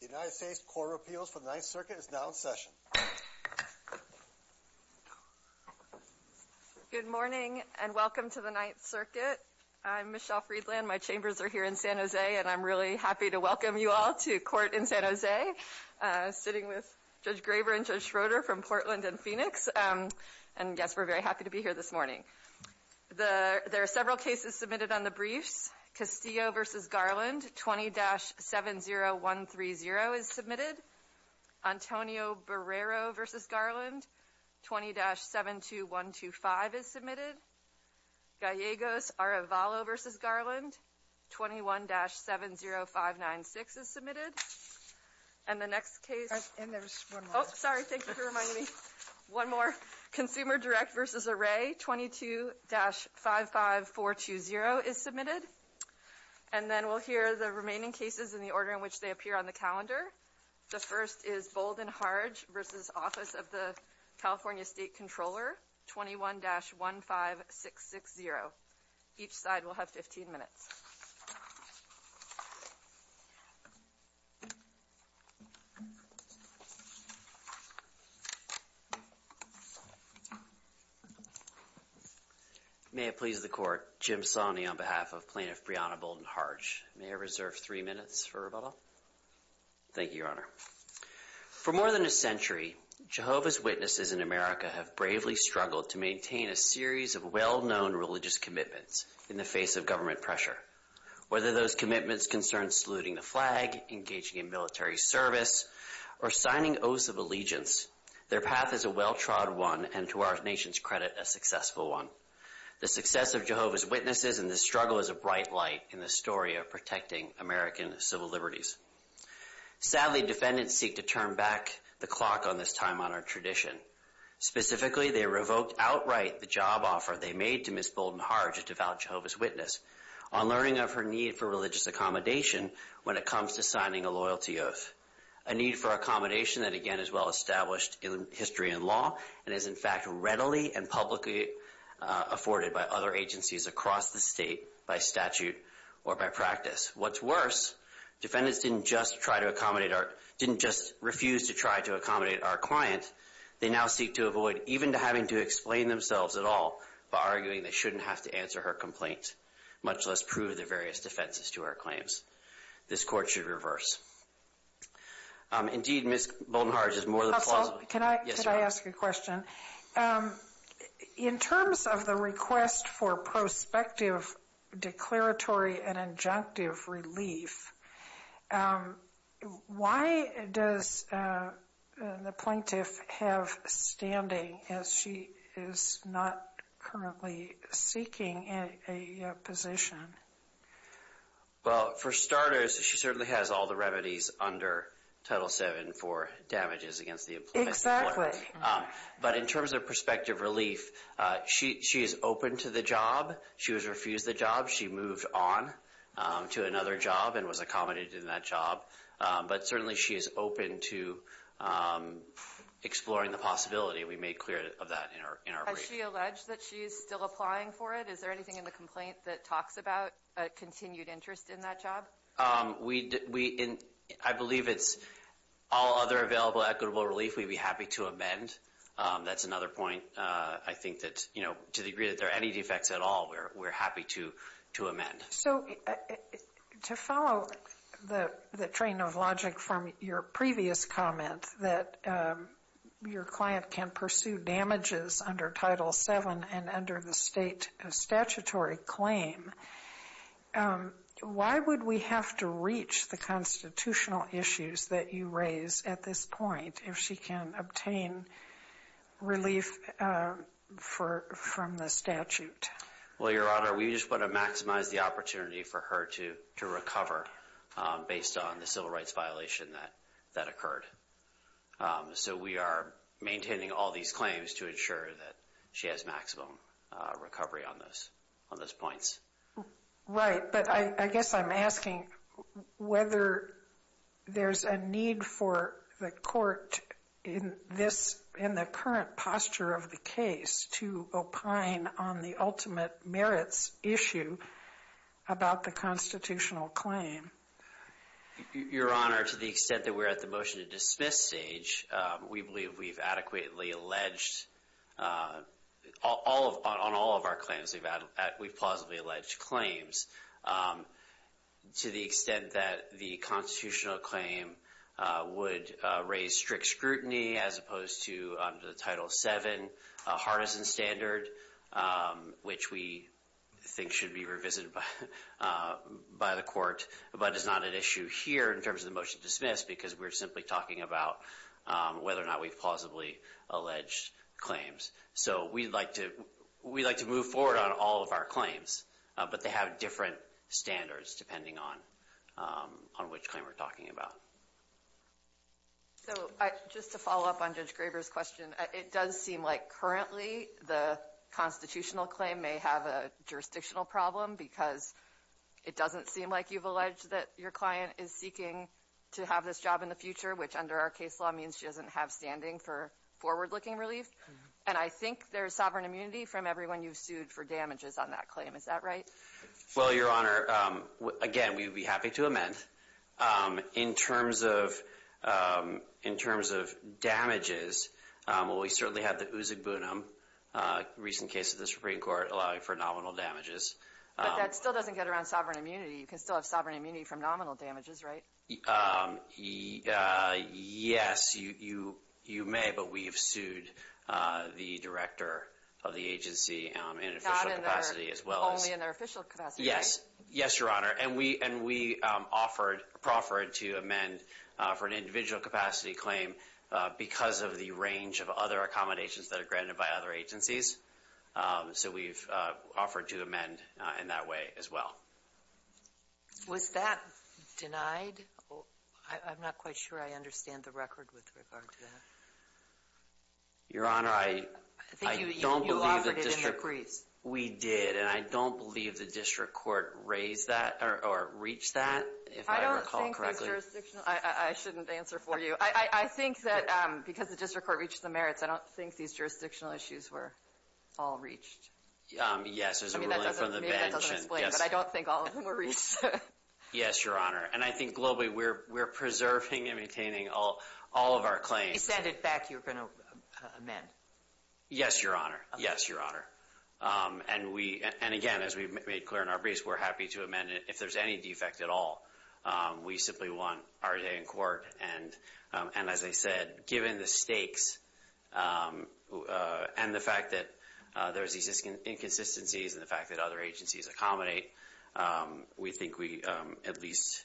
The United States Court of Appeals for the Ninth Circuit is now in session. Good morning, and welcome to the Ninth Circuit. I'm Michelle Friedland, my chambers are here in San Jose, and I'm really happy to welcome you all to court in San Jose. Sitting with Judge Graber and Judge Schroeder from Portland and Phoenix, and yes, we're very happy to be here this morning. There are several cases submitted on the briefs. Castillo v. Garland, 20-70130 is submitted. Antonio Barrero v. Garland, 20-72125 is submitted. Gallegos-Arvalo v. Garland, 21-70596 is submitted. And the next case. And there's one more. Sorry, thank you for reminding me. One more. Consumer Direct v. Array, 22-55420 is submitted. And then we'll hear the remaining cases in the order in which they appear on the calendar. The first is Bolden-Hardge v. Office of the California State Controller, 21-15660. Each side will have 15 minutes. May it please the court, Jim Sonney on behalf of Plaintiff Breonna Bolden-Hardge. May I reserve three minutes for rebuttal? Thank you, Your Honor. For more than a century, Jehovah's Witnesses in America have bravely struggled to maintain a series of well-known religious commitments in the face of government pressure. Whether those commitments concern saluting the flag, engaging in military service, or signing oaths of allegiance, their path is a well-trod one, and to our nation's credit, a successful one. The success of Jehovah's Witnesses and the struggle is a bright light in the story of protecting American civil liberties. Sadly, defendants seek to turn back the clock on this time-honored tradition. Specifically, they revoked outright the job offer they made to Ms. Bolden-Hardge, a devout Jehovah's Witness, on learning of her need for religious accommodation when it comes to signing a loyalty oath. A need for accommodation that, again, is well-established in history and law, and is in fact readily and publicly afforded by other agencies across the state by statute or by practice. What's worse, defendants didn't just refuse to try to accommodate our client. They now seek to avoid even having to explain themselves at all by arguing they shouldn't have to answer her complaint, much less prove their various defenses to our claims. This court should reverse. Indeed, Ms. Bolden-Hardge is more than plausible. Can I ask you a question? In terms of the request for prospective declaratory and injunctive relief, why does the plaintiff have standing as she is not currently seeking a position? Well, for starters, she certainly has all the remedies under Title VII for damages against the employee. Exactly. But in terms of prospective relief, she is open to the job. She has refused the job. She moved on to another job and was accommodated in that job. But certainly, she is open to exploring the possibility. We made clear of that in our brief. Has she alleged that she is still applying for it? Is there anything in the complaint that talks about a continued interest in that job? We, I believe it's all other available equitable relief we'd be happy to amend. That's another point. I think that to the degree that there are any defects at all, we're happy to amend. So, to follow the train of logic from your previous comment, that your client can pursue damages under Title VII and under the state statutory claim, why would we have to reach the constitutional issues that you raise at this point if she can obtain relief from the statute? Well, Your Honor, we just want to maximize the opportunity for her to recover based on the civil rights violation that occurred. So, we are maintaining all these claims to ensure that she has maximum recovery on those points. Right, but I guess I'm asking whether there's a need for the court in the current posture of the case to opine on the ultimate merits issue about the constitutional claim. Your Honor, to the extent that we're at the motion to dismiss stage, we believe we've adequately alleged, on all of our claims, we've plausibly alleged claims to the extent that the constitutional claim would raise strict scrutiny as opposed to, under the Title VII, a harness and standard, which we believe is not an issue here in terms of the motion to dismiss because we're simply talking about whether or not we've plausibly alleged claims. So, we'd like to move forward on all of our claims, but they have different standards depending on which claim we're talking about. So, just to follow up on Judge Graber's question, it does seem like currently the constitutional claim may have a jurisdictional problem because it doesn't seem like you've alleged that your client is seeking to have this job in the future, which under our case law means she doesn't have standing for forward-looking relief. And I think there's sovereign immunity from everyone you've sued for damages on that claim. Is that right? Well, Your Honor, again, we'd be happy to amend. In terms of damages, well, we certainly have the Uzug Bunum, a recent case of the Supreme Court, allowing for nominal damages. But that still doesn't get around sovereign immunity. You can still have sovereign immunity from nominal damages, right? Yes, you may, but we have sued the director of the agency in official capacity as well as- Not only in their official capacity, right? Yes, yes, Your Honor. And we proffered to amend for an individual capacity claim because of the range of other accommodations that are granted by other agencies. So we've offered to amend in that way as well. Was that denied? I'm not quite sure I understand the record with regard to that. Your Honor, I don't believe the district- I think you offered it in your briefs. We did, and I don't believe the district court raised that or reached that, if I recall correctly. I don't think the jurisdictional- I shouldn't answer for you. I think that because the district court reached the merits, I don't think these jurisdictional issues were- all reached. Yes, there's a ruling from the bench- Maybe that doesn't explain it, but I don't think all of them were reached. Yes, Your Honor. And I think globally we're preserving and maintaining all of our claims. If we send it back, you're going to amend? Yes, Your Honor. Yes, Your Honor. And we- And again, as we've made clear in our briefs, we're happy to amend it if there's any defect at all. We simply want RJ in court. And as I said, given the stakes and the fact that there's these inconsistencies, and the fact that other agencies accommodate, we think we at least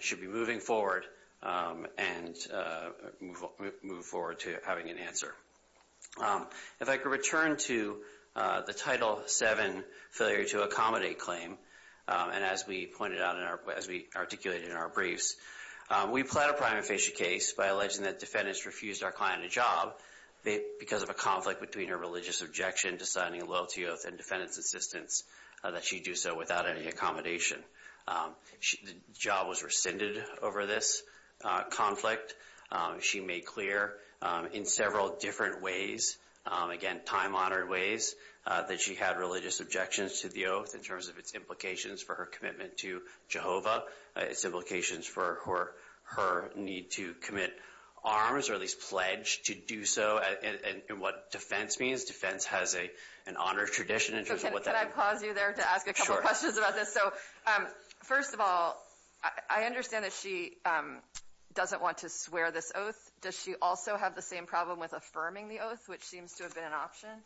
should be moving forward and move forward to having an answer. If I could return to the Title VII failure to accommodate claim, and as we pointed out in our- as we articulated in our briefs, we plead a prima facie case by alleging that defendants refused our client a job because of a conflict between her religious objection to signing a loyalty oath and defendant's insistence that she do so without any accommodation. The job was rescinded over this conflict. She made clear in several different ways, again, time-honored ways, that she had religious objections to the oath in terms of its implications for her commitment to her need to commit arms, or at least pledge to do so, and what defense means. Defense has an honored tradition in terms of what that- Can I pause you there to ask a couple questions about this? Sure. So, first of all, I understand that she doesn't want to swear this oath. Does she also have the same problem with affirming the oath, which seems to have been an option?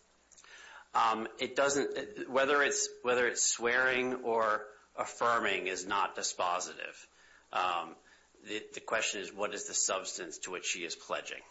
It doesn't- whether it's swearing or affirming is not dispositive. The question is, what is the substance to which she is pledging?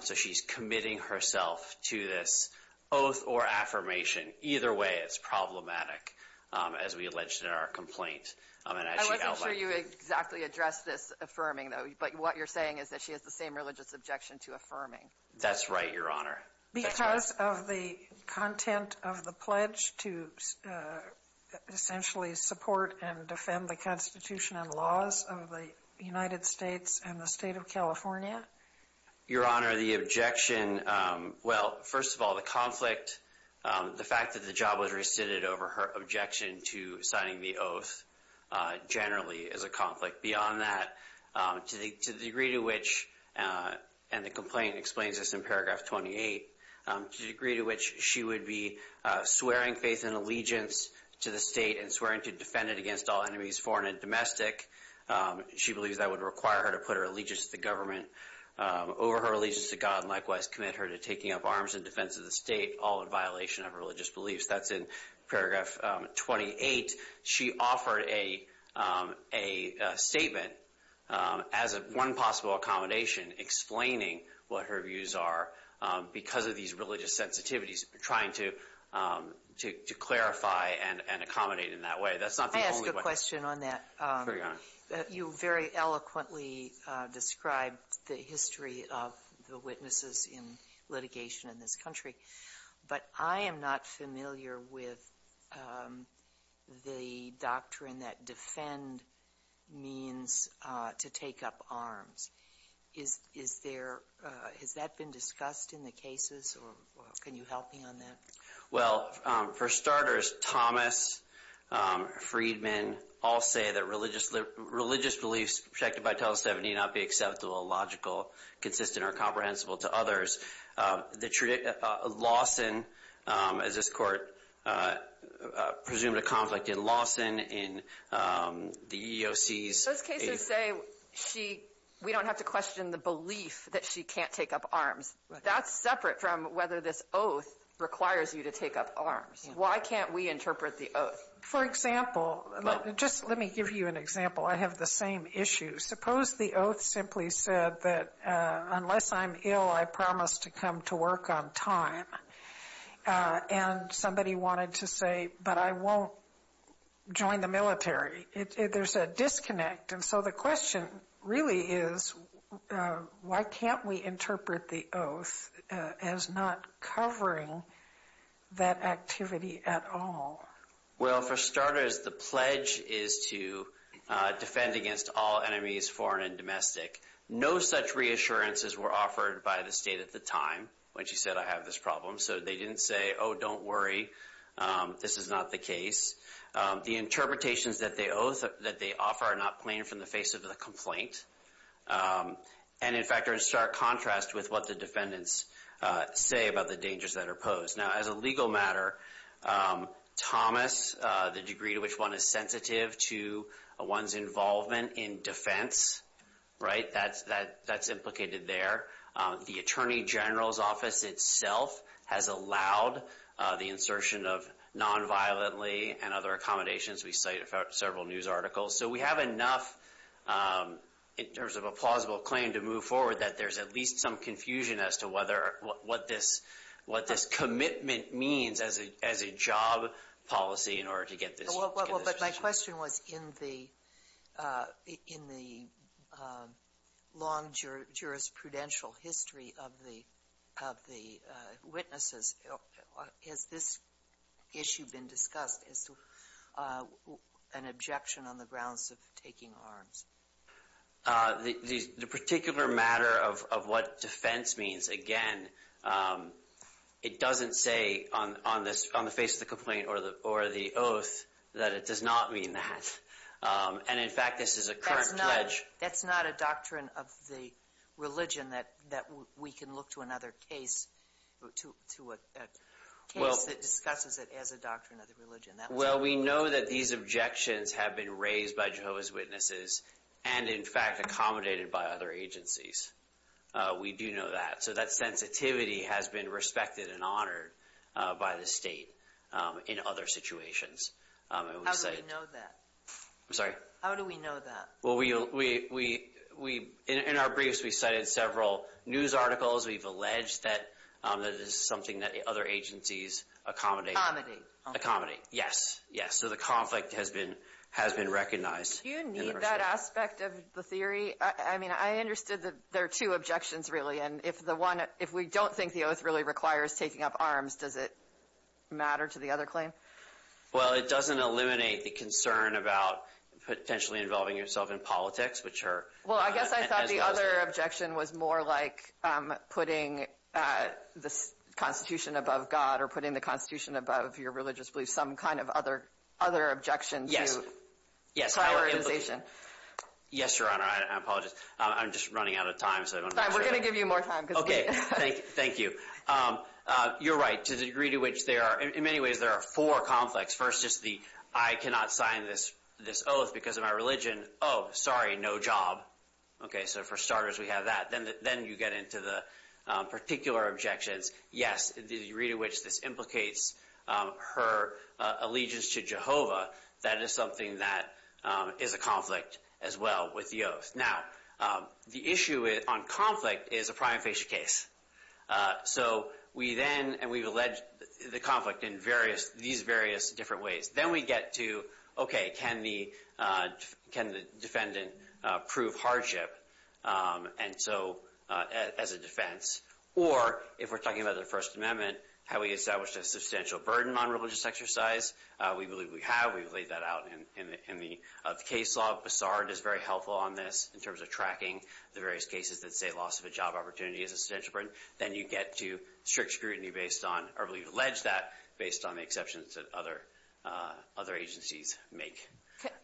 So she's committing herself to this oath or affirmation. Either way, it's problematic, as we alleged in our complaint. I wasn't sure you exactly addressed this affirming though, but what you're saying is that she has the same religious objection to affirming. That's right, Your Honor. Because of the content of the pledge to essentially support and defend the Constitution and laws of the United States and the state of California? Your Honor, the objection- well, first of all, the conflict, the fact that the job was rescinded over her objection to signing the oath, generally, is a conflict. Beyond that, to the degree to which- and the complaint explains this in paragraph 28- to the degree to which she would be swearing faith and allegiance to the state and swearing to defend it against all enemies, foreign and domestic. She believes that would require her to put her allegiance to the government over her allegiance to God and likewise commit her to taking up arms in defense of the state, all in violation of religious beliefs. That's in paragraph 28. She offered a statement as one possible accommodation, explaining what her views are because of these religious sensitivities, trying to clarify and accommodate in that way. That's not the only way- Can I ask a question on that? Sure, Your Honor. You very eloquently described the history of the witnesses in litigation in this country, but I am not familiar with the doctrine that defend means to take up arms. Is there- has that been discussed in the cases, or can you help me on that? Well, for starters, Thomas, Friedman, all say that religious beliefs protected by TELUS-7 need not be acceptable, logical, consistent, or comprehensible to others. Lawson, as this Court presumed a conflict in Lawson, in the EEOC's- Those cases say we don't have to question the belief that she can't take up arms. That's separate from whether this oath requires you to take up arms. Why can't we interpret the oath? For example, just let me give you an example. I have the same issue. Suppose the oath simply said that unless I'm ill, I promise to come to work on time, and somebody wanted to say, but I won't join the military. There's a disconnect, and so the question really is, why can't we interpret the oath as not covering that activity at all? Well, for starters, the pledge is to defend against all enemies, foreign and domestic. No such reassurances were offered by the state at the time when she said, I have this problem, so they didn't say, oh, don't worry, this is not the case. The interpretations that they offer are not plain from the face of the complaint, and in fact are in stark contrast with what the defendants say about the dangers that are posed. Now, as a legal matter, Thomas, the degree to which one is sensitive to one's involvement in defense, that's implicated there. The Attorney General's Office itself has allowed the insertion of unviolently and other accommodations. We cite several news articles. So we have enough in terms of a plausible claim to move forward that there's at least some confusion as to what this commitment means as a job policy in order to get this. Well, but my question was in the long jurisprudential history of the witnesses, has this issue been discussed as to an objection on the grounds of taking arms? The particular matter of what defense means, again, it doesn't say on the face of the complaint or the oath that it does not mean that. And in fact, this is a current pledge. That's not a doctrine of the religion that we can look to another case, to a case that discusses it as a doctrine of the religion. Well, we know that these objections have been raised by Jehovah's Witnesses and in fact accommodated by other agencies. We do know that. So that sensitivity has been respected and honored by the state in other situations. How do we know that? I'm sorry? How do we know that? Well, in our briefs, we cited several news articles. We've alleged that this is something that other agencies accommodate. Accommodate. Accommodate. Yes. Yes. So the conflict has been recognized. Do you need that aspect of the theory? I mean, I understood that there are two objections, really. And if we don't think the oath really requires taking up arms, does it matter to the other claim? Well, it doesn't eliminate the concern about potentially involving yourself in politics, which are... Well, I guess I thought the other objection was more like putting the Constitution above God or putting the Constitution above your religious beliefs. Some kind of other objection to prioritization. Yes, Your Honor. I apologize. I'm just running out of time. We're going to give you more time. Okay. Thank you. You're right. To the degree to which there are... In many ways, there are four conflicts. First is the, I cannot sign this oath because of my religion. Oh, sorry. No job. Okay. So for starters, we have that. Then you get into the particular objections. Yes, the degree to which this implicates her allegiance to Jehovah, that is something that is a conflict as well with the oath. Now, the issue on conflict is a prima facie case. So we then... And we've alleged the conflict in these various different ways. Then we get to, okay, can the defendant prove hardship as a defense? Or if we're talking about the First Amendment, how we established a substantial burden on religious exercise. We believe we have. We've laid that out in the case law. Bessard is very helpful on this in terms of tracking the various cases that say loss of job opportunity is a substantial burden. Then you get to strict scrutiny based on, or we've alleged that based on the exceptions that other agencies make.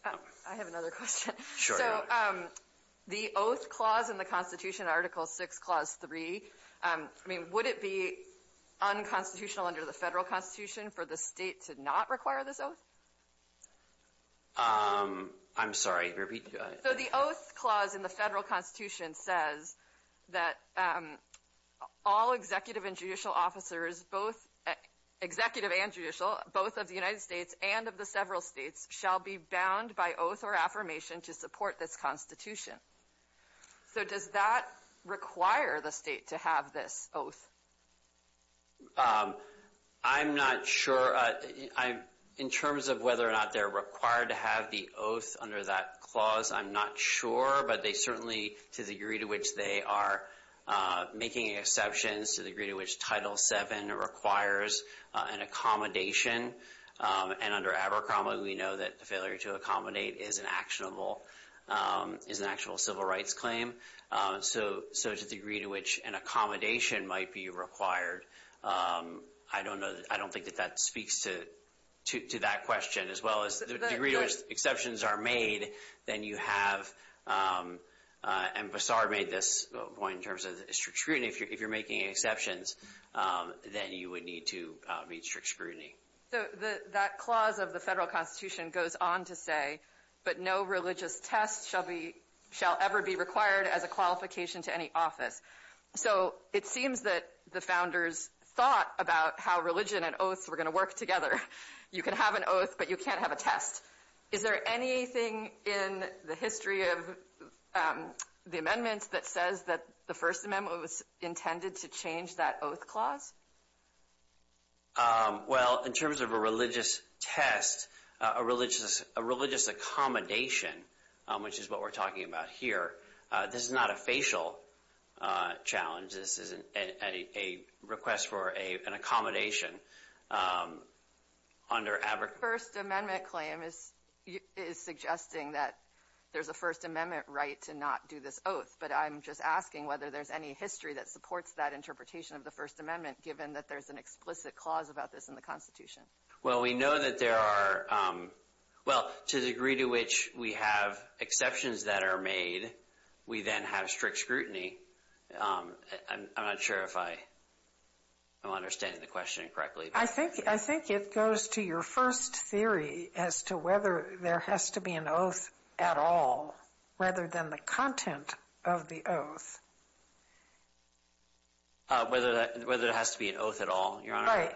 I have another question. Sure. So the oath clause in the Constitution, Article 6, Clause 3, I mean, would it be unconstitutional under the federal constitution for the state to not require this oath? I'm sorry, repeat. So the oath clause in the federal constitution says that all executive and judicial officers, both executive and judicial, both of the United States and of the several states, shall be bound by oath or affirmation to support this constitution. So does that require the state to have this oath? I'm not sure. I'm, in terms of whether or not they're required to have the oath under that clause, I'm not sure. But they certainly, to the degree to which they are making exceptions, to the degree to which Title 7 requires an accommodation. And under Abercrombie, we know that the failure to accommodate is an actionable, is an actual civil rights claim. So to the degree to which an accommodation might be required, I don't know, I don't think that speaks to that question, as well as the degree to which exceptions are made, then you have, and Bassar made this point in terms of strict scrutiny, if you're making exceptions, then you would need to meet strict scrutiny. So that clause of the federal constitution goes on to say, but no religious test shall ever be required as a qualification to any office. So it seems that the founders thought about how religion and oaths were going to work together. You can have an oath, but you can't have a test. Is there anything in the history of the amendments that says that the First Amendment was intended to change that oath clause? Well, in terms of a religious test, a religious accommodation, which is what we're talking about here, this is not a facial challenge. This is a request for an accommodation under Abercrombie. First Amendment claim is suggesting that there's a First Amendment right to not do this oath, but I'm just asking whether there's any history that supports that interpretation of the First Amendment, given that there's an explicit clause about this in the constitution. Well, we know that there are, well, to the degree to which we have exceptions that are made, we then have strict scrutiny. I'm not sure if I'm understanding the question correctly. I think it goes to your first theory as to whether there has to be an oath at all, rather than the content of the oath. Whether there has to be an oath at all, Your Honor?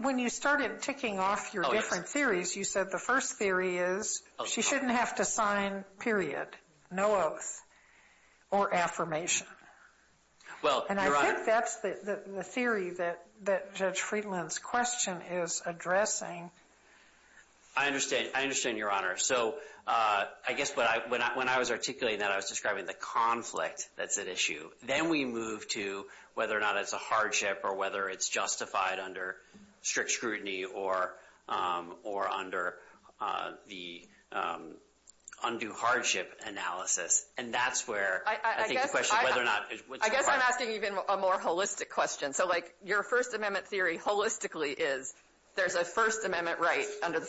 When you started ticking off your different theories, you said the first theory is she shouldn't have to sign, period, no oath or affirmation. And I think that's the theory that Judge Friedland's question is addressing. I understand. I understand, Your Honor. So I guess when I was articulating that, I was describing the conflict that's at issue. Then we move to whether or not it's a hardship or whether it's justified under strict scrutiny or under the undue hardship analysis. And that's where I think the question is whether or not it's required. I guess I'm asking even a more holistic question. So, like, your First Amendment theory holistically is there's a First Amendment right under the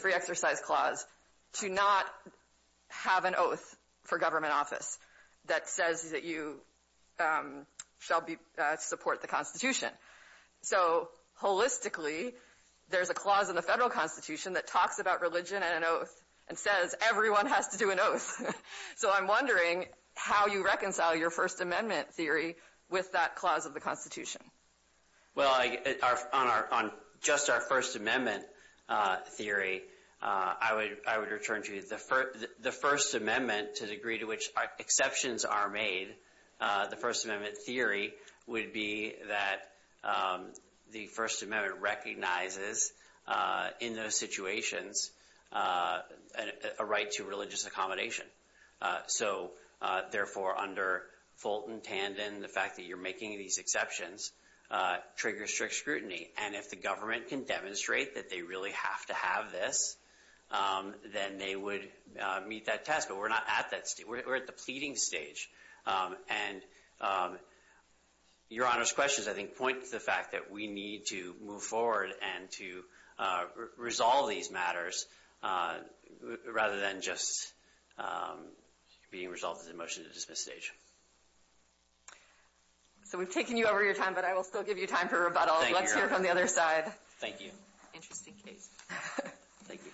shall support the Constitution. So, holistically, there's a clause in the federal Constitution that talks about religion and an oath and says everyone has to do an oath. So I'm wondering how you reconcile your First Amendment theory with that clause of the Constitution. Well, on just our First Amendment theory, I would return to the First Amendment to the degree to which exceptions are made. The First Amendment theory would be that the First Amendment recognizes in those situations a right to religious accommodation. So, therefore, under Fulton, Tandon, the fact that you're making these exceptions triggers strict scrutiny. And if the government can demonstrate that they really have to have this, then they would meet that test. But we're not at that. We're at the pleading stage. And Your Honor's questions, I think, point to the fact that we need to move forward and to resolve these matters rather than just being resolved as a motion to dismiss at this stage. So we've taken you over your time, but I will still give you time for rebuttal. Let's hear from the other side. Thank you. Interesting case. Thank you. Thank you.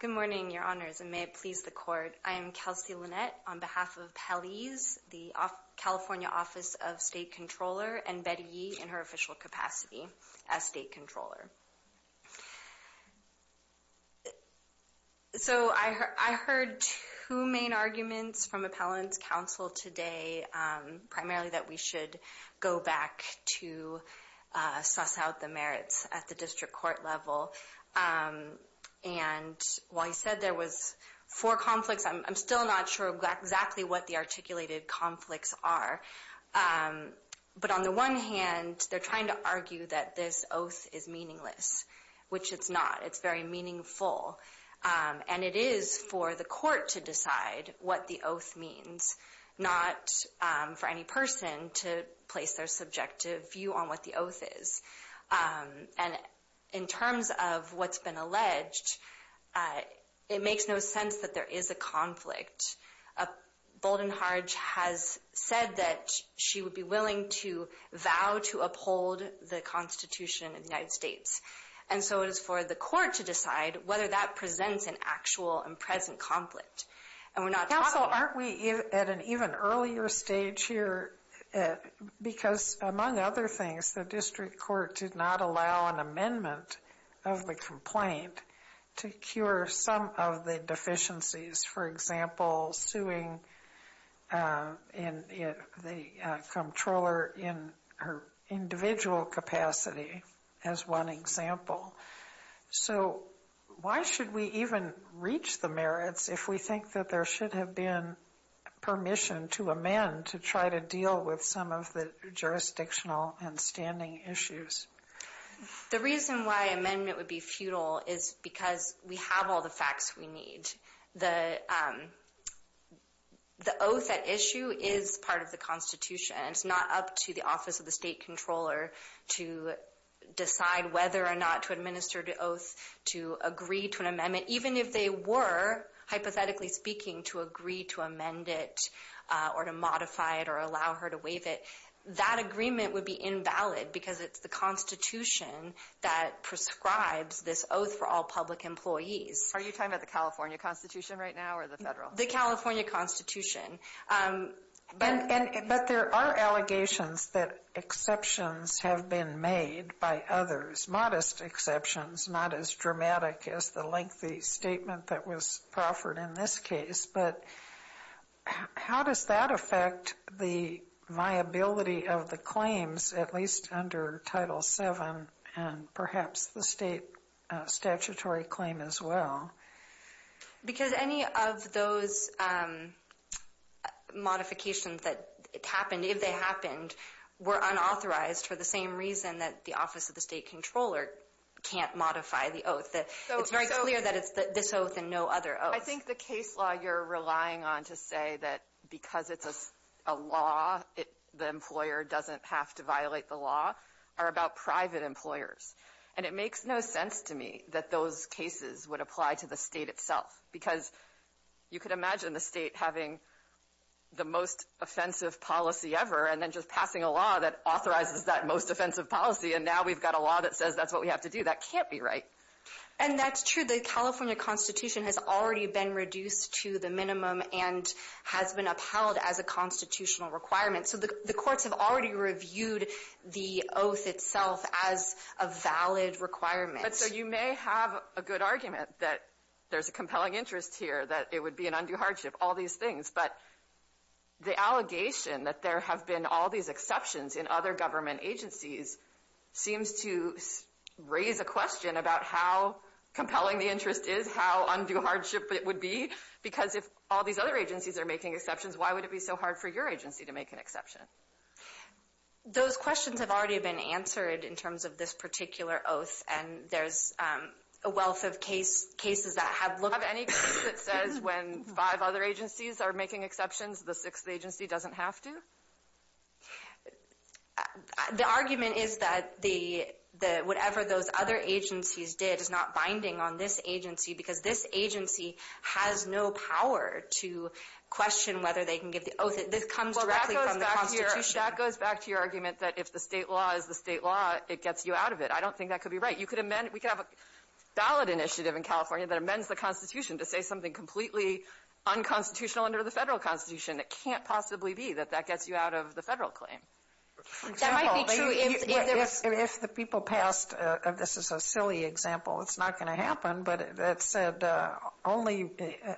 Good morning, Your Honors, and may it please the Court. I am Kelsey Lynette on behalf of Pelley's, the California Office of State Controller, and Betty Yee in her official capacity as State Controller. So I heard two main arguments from Appellant's counsel today, primarily that we should go back to suss out the merits at the district court level. And while you said there was four conflicts, I'm still not sure exactly what the articulated conflicts are. But on the one hand, they're trying to argue that this oath is meaningful. Which it's not. It's very meaningful. And it is for the court to decide what the oath means, not for any person to place their subjective view on what the oath is. And in terms of what's been alleged, it makes no sense that there is a conflict. Bolden Harge has said that she would be willing to vow to uphold the Constitution of the United States. And so it is for the court to decide whether that presents an actual and present conflict. And we're not talking- Counsel, aren't we at an even earlier stage here? Because among other things, the district court did not allow an amendment of the complaint to cure some of the deficiencies. For example, suing the comptroller in her individual capacity as one example. So why should we even reach the merits if we think that there should have been permission to amend to try to deal with some of the jurisdictional and standing issues? The reason why amendment would be futile is because we have all the facts we need. The oath at issue is part of the Constitution. It's not up to the office of the state controller to decide whether or not to administer the oath, to agree to an amendment. Even if they were, hypothetically speaking, to agree to amend it or to modify it or allow her to waive it, that agreement would be invalid because it's the Constitution that prescribes this oath for all public employees. Are you talking about the California Constitution right now or the federal? The California Constitution. But there are allegations that exceptions have been made by others, modest exceptions, not as dramatic as the lengthy statement that was proffered in this case. But how does that affect the viability of the claims, at least under Title VII and perhaps the state statutory claim as well? Because any of those modifications that happened, if they happened, were unauthorized for the same reason that the office of the state controller can't modify the oath. It's very clear that it's this oath and no other oath. I think the case law you're relying on to say that because it's a law, the employer doesn't have to violate the law are about private employers. And it makes no sense to me that those cases would apply to the state itself, because you could imagine the state having the most offensive policy ever and then just passing a law that authorizes that most offensive policy. And now we've got a law that says that's what we have to do. That can't be right. And that's true. The California Constitution has already been reduced to the minimum and has been upheld as a constitutional requirement. The courts have already reviewed the oath itself as a valid requirement. So you may have a good argument that there's a compelling interest here, that it would be an undue hardship, all these things. But the allegation that there have been all these exceptions in other government agencies seems to raise a question about how compelling the interest is, how undue hardship it would be. Because if all these other agencies are making exceptions, why would it be so hard for your agency to make an exception? Those questions have already been answered in terms of this particular oath. And there's a wealth of cases that have looked— Do you have any case that says when five other agencies are making exceptions, the sixth agency doesn't have to? The argument is that whatever those other agencies did is not binding on this agency, because this agency has no power to question whether they can give the oath. This comes directly from the Constitution. Well, that goes back to your argument that if the State law is the State law, it gets you out of it. I don't think that could be right. You could amend—we could have a ballot initiative in California that amends the Constitution to say something completely unconstitutional under the Federal Constitution. It can't possibly be that that gets you out of the Federal claim. That might be true if there was— It's not going to happen. But that said,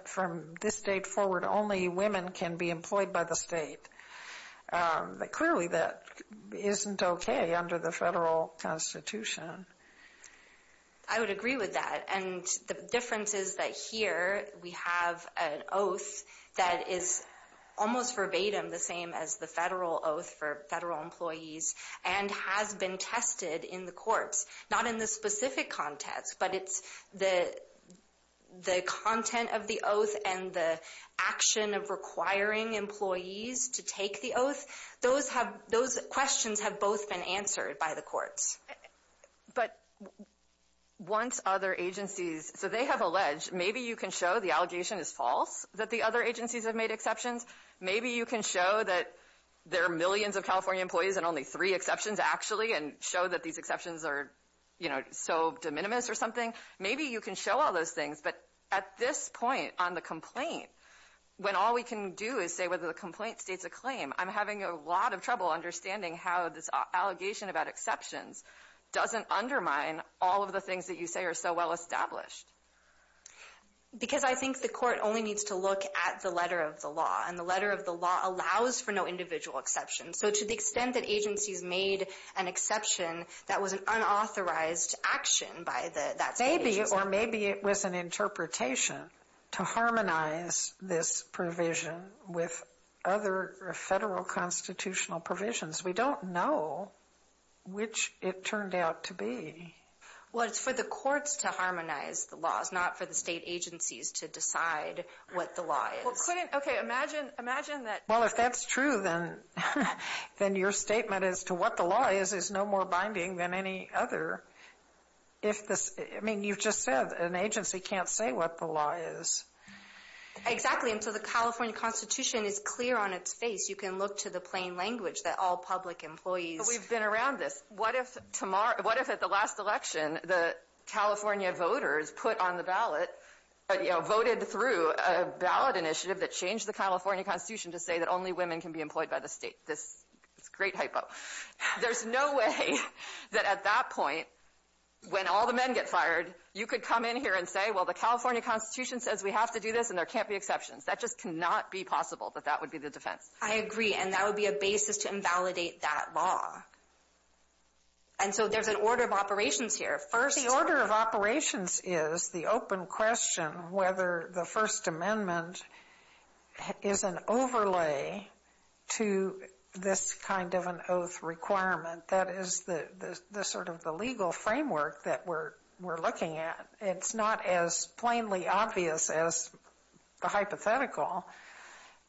from this date forward, only women can be employed by the State. Clearly, that isn't okay under the Federal Constitution. I would agree with that. And the difference is that here we have an oath that is almost verbatim the same as the Federal oath for Federal employees and has been tested in the courts. Not in the specific context, but it's the content of the oath and the action of requiring employees to take the oath, those questions have both been answered by the courts. But once other agencies—so they have alleged, maybe you can show the allegation is false, that the other agencies have made exceptions. Maybe you can show that there are millions of California employees and only three exceptions actually and show that these exceptions are, you know, so de minimis or something. Maybe you can show all those things. But at this point on the complaint, when all we can do is say whether the complaint states a claim, I'm having a lot of trouble understanding how this allegation about exceptions doesn't undermine all of the things that you say are so well established. Because I think the court only needs to look at the letter of the law. And the letter of the law allows for no individual exceptions. So to the extent that agencies made an exception, that was an unauthorized action by that state. Maybe, or maybe it was an interpretation to harmonize this provision with other federal constitutional provisions. We don't know which it turned out to be. Well, it's for the courts to harmonize the laws, not for the state agencies to decide what the law is. Well, couldn't—okay, imagine, imagine that— Well, if that's true, then your statement as to what the law is is no more binding than any other. If this—I mean, you've just said an agency can't say what the law is. Exactly. And so the California Constitution is clear on its face. You can look to the plain language that all public employees— But we've been around this. What if tomorrow—what if at the last election, the California voters put on the ballot, you know, voted through a ballot initiative that changed the California Constitution to say that only women can be employed by the state? This—it's a great hypo. There's no way that at that point, when all the men get fired, you could come in here and say, well, the California Constitution says we have to do this and there can't be exceptions. That just cannot be possible, that that would be the defense. I agree. And that would be a basis to invalidate that law. And so there's an order of operations here. First— The order of operations is the open question whether the First Amendment is an overlay to this kind of an oath requirement. That is the sort of the legal framework that we're looking at. It's not as plainly obvious as the hypothetical,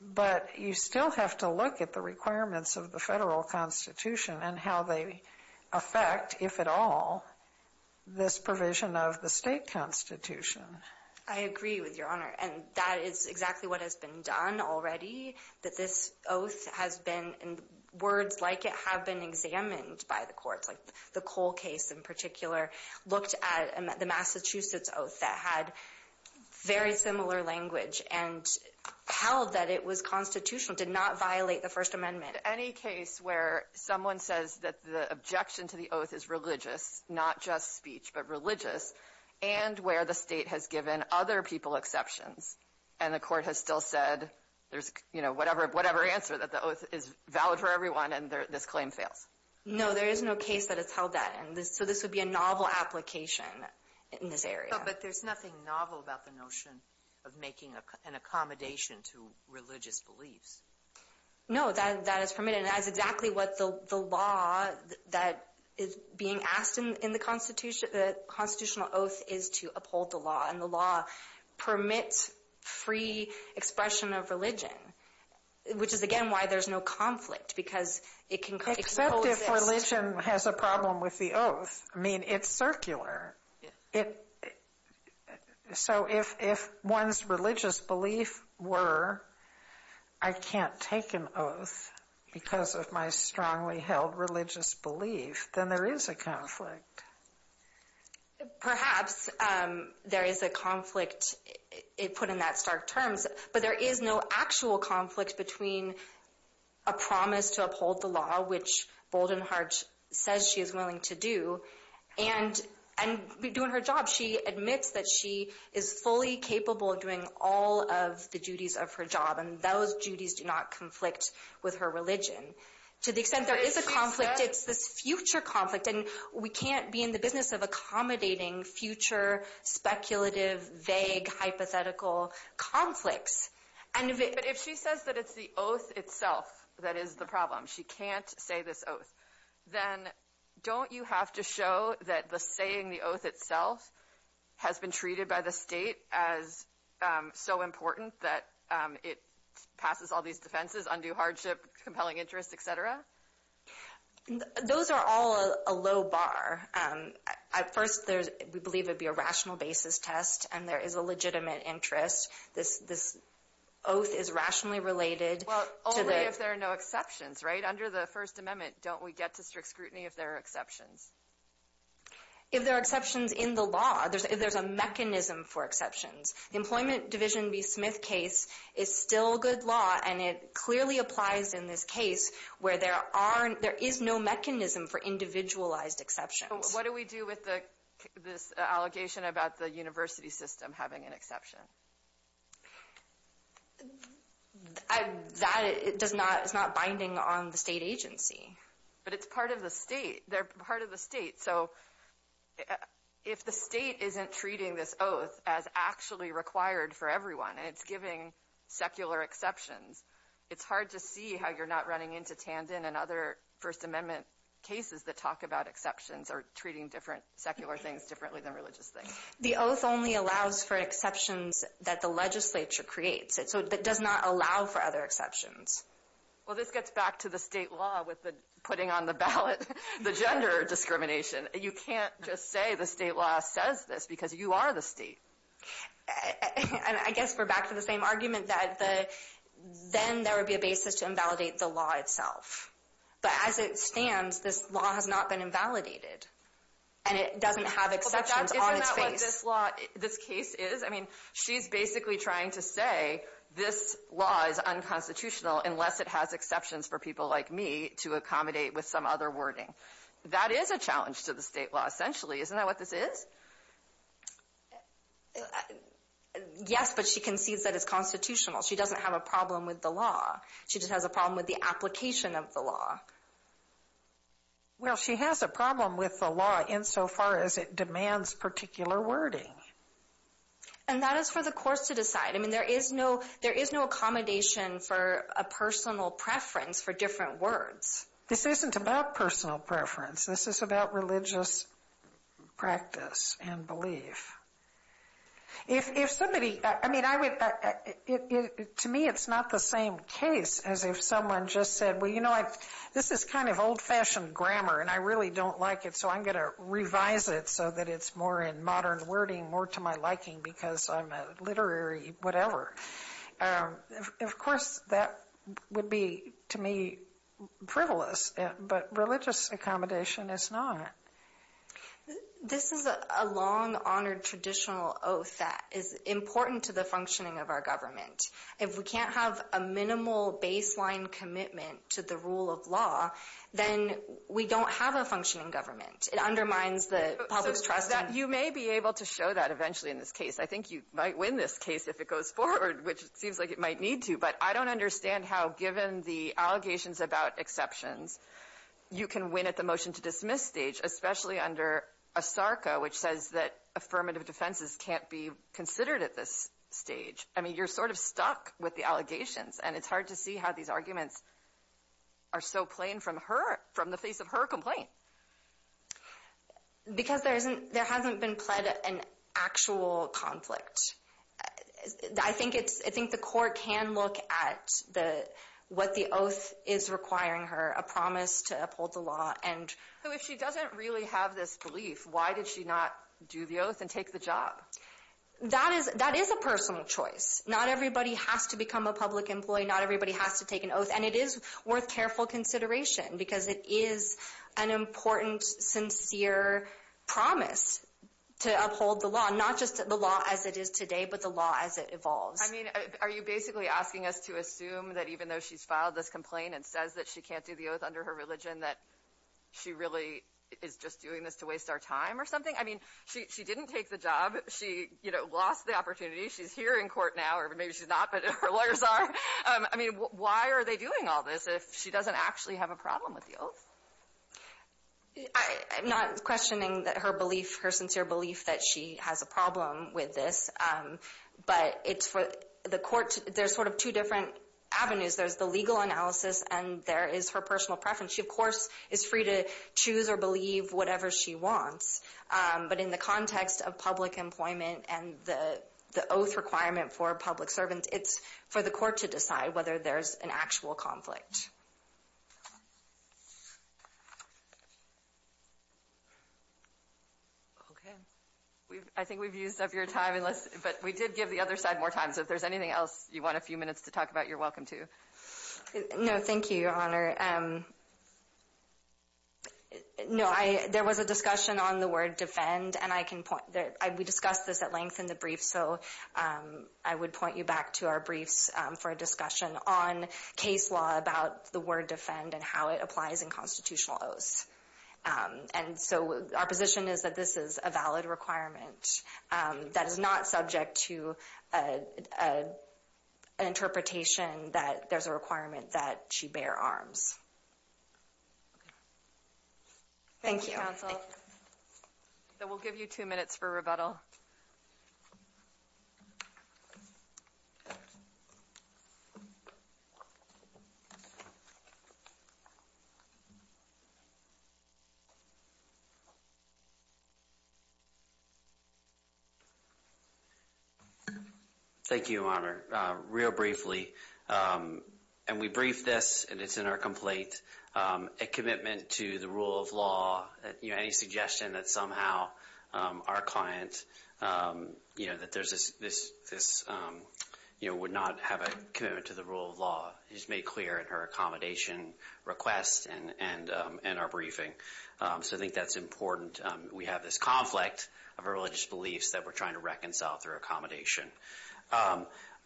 but you still have to look at the requirements of the federal Constitution and how they affect, if at all, this provision of the state Constitution. I agree with Your Honor, and that is exactly what has been done already, that this oath has been—and words like it have been examined by the courts, like the Cole case in particular looked at the Massachusetts oath that had very similar language and held that it was constitutional, did not violate the First Amendment. Any case where someone says that the objection to the oath is religious, not just speech, but religious, and where the state has given other people exceptions and the court has still said there's, you know, whatever answer that the oath is valid for everyone and this claim fails? No, there is no case that it's held that, and so this would be a novel application in this area. But there's nothing novel about the notion of making an accommodation to religious beliefs. No, that is permitted, and that is exactly what the law that is being asked in the Constitution, the constitutional oath, is to uphold the law, and the law permits free expression of religion, which is, again, why there's no conflict, because it can— Except if religion has a problem with the oath. I mean, it's circular. It—so if one's religious beliefs were, I can't take an oath because of my strongly held religious belief, then there is a conflict. Perhaps there is a conflict put in that stark terms, but there is no actual conflict between a promise to uphold the law, which Boldenheart says she is willing to do, and doing her job. She admits that she is fully capable of doing all of the duties of her job, and those duties do not conflict with her religion, to the extent there is a conflict. It's this future conflict, and we can't be in the business of accommodating future speculative, vague, hypothetical conflicts. But if she says that it's the oath itself that is the problem, she can't say this show that the saying the oath itself has been treated by the state as so important that it passes all these defenses, undue hardship, compelling interest, et cetera? Those are all a low bar. At first, there's—we believe it'd be a rational basis test, and there is a legitimate interest. This oath is rationally related to the— Well, only if there are no exceptions, right? Under the First Amendment, don't we get to strict scrutiny if there are exceptions? If there are exceptions in the law, if there's a mechanism for exceptions. The Employment Division v. Smith case is still good law, and it clearly applies in this case where there aren't—there is no mechanism for individualized exceptions. What do we do with this allegation about the university system having an exception? That does not—it's not binding on the state agency. But it's part of the state. They're part of the state. So if the state isn't treating this oath as actually required for everyone, and it's giving secular exceptions, it's hard to see how you're not running into Tandon and other First Amendment cases that talk about exceptions or treating different secular things differently than religious things. The oath only allows for exceptions that the legislature creates. So it does not allow for other exceptions. Well, this gets back to the state law with the putting on the ballot, the gender discrimination. You can't just say the state law says this because you are the state. And I guess we're back to the same argument that then there would be a basis to invalidate the law itself. But as it stands, this law has not been invalidated. And it doesn't have exceptions on its face. Isn't that what this case is? She's basically trying to say this law is unconstitutional unless it has exceptions for people like me to accommodate with some other wording. That is a challenge to the state law, essentially. Isn't that what this is? Yes, but she concedes that it's constitutional. She doesn't have a problem with the law. She just has a problem with the application of the law. Well, she has a problem with the law insofar as it demands particular wording. And that is for the courts to decide. I mean, there is no accommodation for a personal preference for different words. This isn't about personal preference. This is about religious practice and belief. To me, it's not the same case as if someone just said, well, you know what? This is kind of old-fashioned grammar, and I really don't like it, so I'm going to revise it so that it's more in modern wording, more to my liking because I'm a literary whatever. Of course, that would be, to me, frivolous. But religious accommodation is not. This is a long-honored traditional oath that is important to the functioning of our government. If we can't have a minimal baseline commitment to the rule of law, then we don't have a functioning government. It undermines the public's trust. You may be able to show that eventually in this case. I think you might win this case if it goes forward, which seems like it might need to. But I don't understand how, given the allegations about exceptions, you can win at the motion-to-dismiss stage, especially under ASARCA, which says that affirmative defenses can't be considered at this stage. I mean, you're sort of stuck with the allegations. And it's hard to see how these arguments are so plain from her, from the face of her complaint. Because there hasn't been pled an actual conflict. I think the court can look at what the oath is requiring her, a promise to uphold the law. If she doesn't really have this belief, why did she not do the oath and take the job? That is a personal choice. Not everybody has to become a public employee. Not everybody has to take an oath. And it is worth careful consideration, because it is an important, sincere promise to uphold the law, not just the law as it is today, but the law as it evolves. I mean, are you basically asking us to assume that even though she's filed this complaint and says that she can't do the oath under her religion, that she really is just doing this to waste our time or something? I mean, she didn't take the job. She lost the opportunity. She's here in court now, or maybe she's not, but her lawyers are. I mean, why are they doing all this if she doesn't actually have a problem with the oath? I'm not questioning that her belief, her sincere belief that she has a problem with this. But it's for the court. There's sort of two different avenues. There's the legal analysis and there is her personal preference. She, of course, is free to choose or believe whatever she wants. But in the context of public employment and the oath requirement for a public servant, it's for the court to decide whether there's an actual conflict. Okay. I think we've used up your time, but we did give the other side more time. So if there's anything else you want a few minutes to talk about, you're welcome to. No, thank you, Your Honor. No, there was a discussion on the word defend, and we discussed this at length in the brief. So I would point you back to our briefs for a discussion on case law about the word defend and how it applies in constitutional oaths. And so our position is that this is a valid requirement that is not subject to an interpretation that there's a requirement that she bear arms. Thank you, counsel. Then we'll give you two minutes for rebuttal. Thank you, Your Honor. Real briefly, and we briefed this, and it's in our complaint, a commitment to the rule of law, any suggestion that somehow our client would not have a commitment to the rule of law is made clear in her accommodation request and our briefing. So I think that's important. We have this conflict of religious beliefs that we're trying to reconcile through accommodation.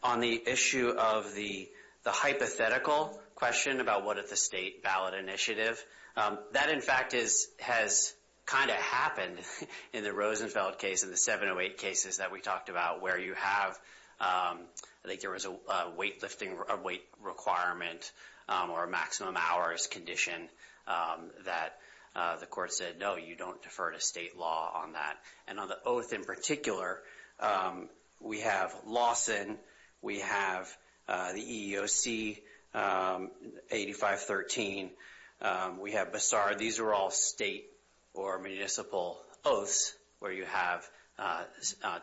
On the issue of the hypothetical question about what is the state ballot initiative, that, in fact, has kind of happened in the Rosenfeld case, in the 708 cases that we talked about, where you have, I think there was a weight requirement or maximum hours condition that the court said, no, you don't defer to state law on that. And on the oath in particular, we have Lawson, we have the EEOC 8513, we have Bassard. These are all state or municipal oaths where you have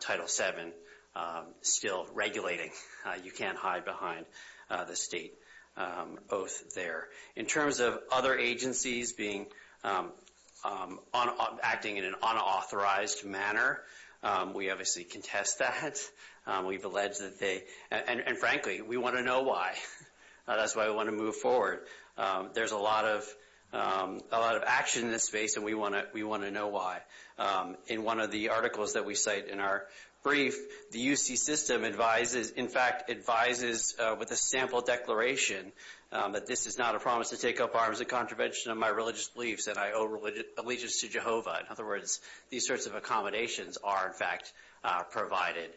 Title VII still regulating. You can't hide behind the state oath there. In terms of other agencies acting in an unauthorized manner, we obviously contest that. We've alleged that they, and frankly, we want to know why. That's why we want to move forward. There's a lot of action in this space, and we want to know why. In one of the articles that we cite in our brief, the UC system advises, in fact, advises with a sample declaration that this is not a promise to take up arms in contravention of my religious beliefs, and I owe allegiance to Jehovah. In other words, these sorts of accommodations are, in fact, provided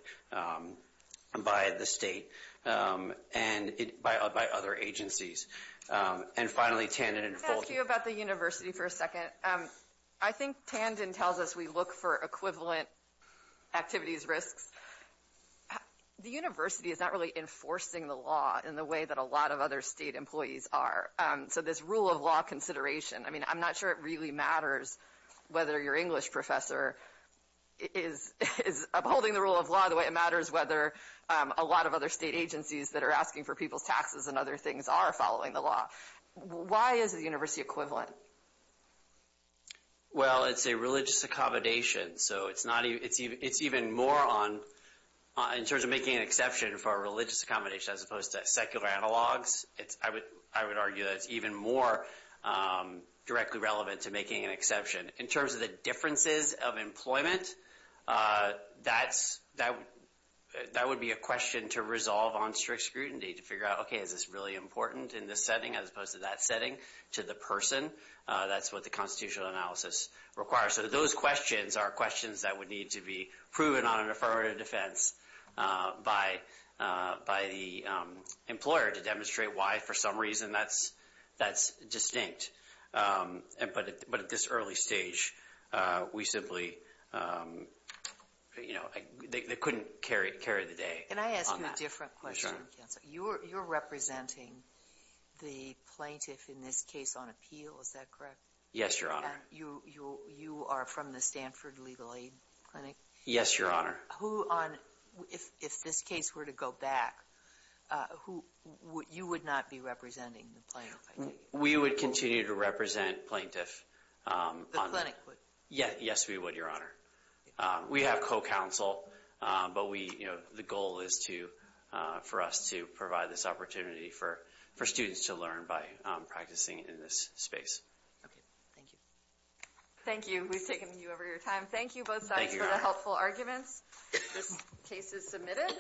by the state and by other agencies. And finally, Tandon and Folger. Can I ask you about the university for a second? I think Tandon tells us we look for equivalent activities risks. The university is not really enforcing the law in the way that a lot of other state employees are. So this rule of law consideration, I mean, I'm not sure it really matters whether your English professor is upholding the rule of law the way it matters whether a lot of other state agencies that are asking for people's taxes and other things are following the law. Why is the university equivalent? Well, it's a religious accommodation. So it's even more on, in terms of making an exception for a religious accommodation as opposed to secular analogs, I would argue that it's even more directly relevant to making an exception. In terms of the differences of employment, that would be a question to resolve on strict scrutiny to figure out, OK, is this really important in this setting as opposed to that setting to the person? That's what the constitutional analysis requires. So those questions are questions that would need to be proven on an affirmative defense by the employer to demonstrate why, for some reason, that's distinct. But at this early stage, we simply, you know, they couldn't carry the day. Can I ask you a different question, counsel? You're representing the plaintiff in this case on appeal, is that correct? Yes, Your Honor. And you are from the Stanford Legal Aid Clinic? Yes, Your Honor. Who on, if this case were to go back, who, you would not be representing the plaintiff? We would continue to represent plaintiff. The clinic would? Yes, we would, Your Honor. We have co-counsel, but we, you know, the goal is to, for us to provide this opportunity for students to learn by practicing in this space. Okay, thank you. Thank you. We've taken you over your time. Thank you both sides for the helpful arguments. This case is submitted.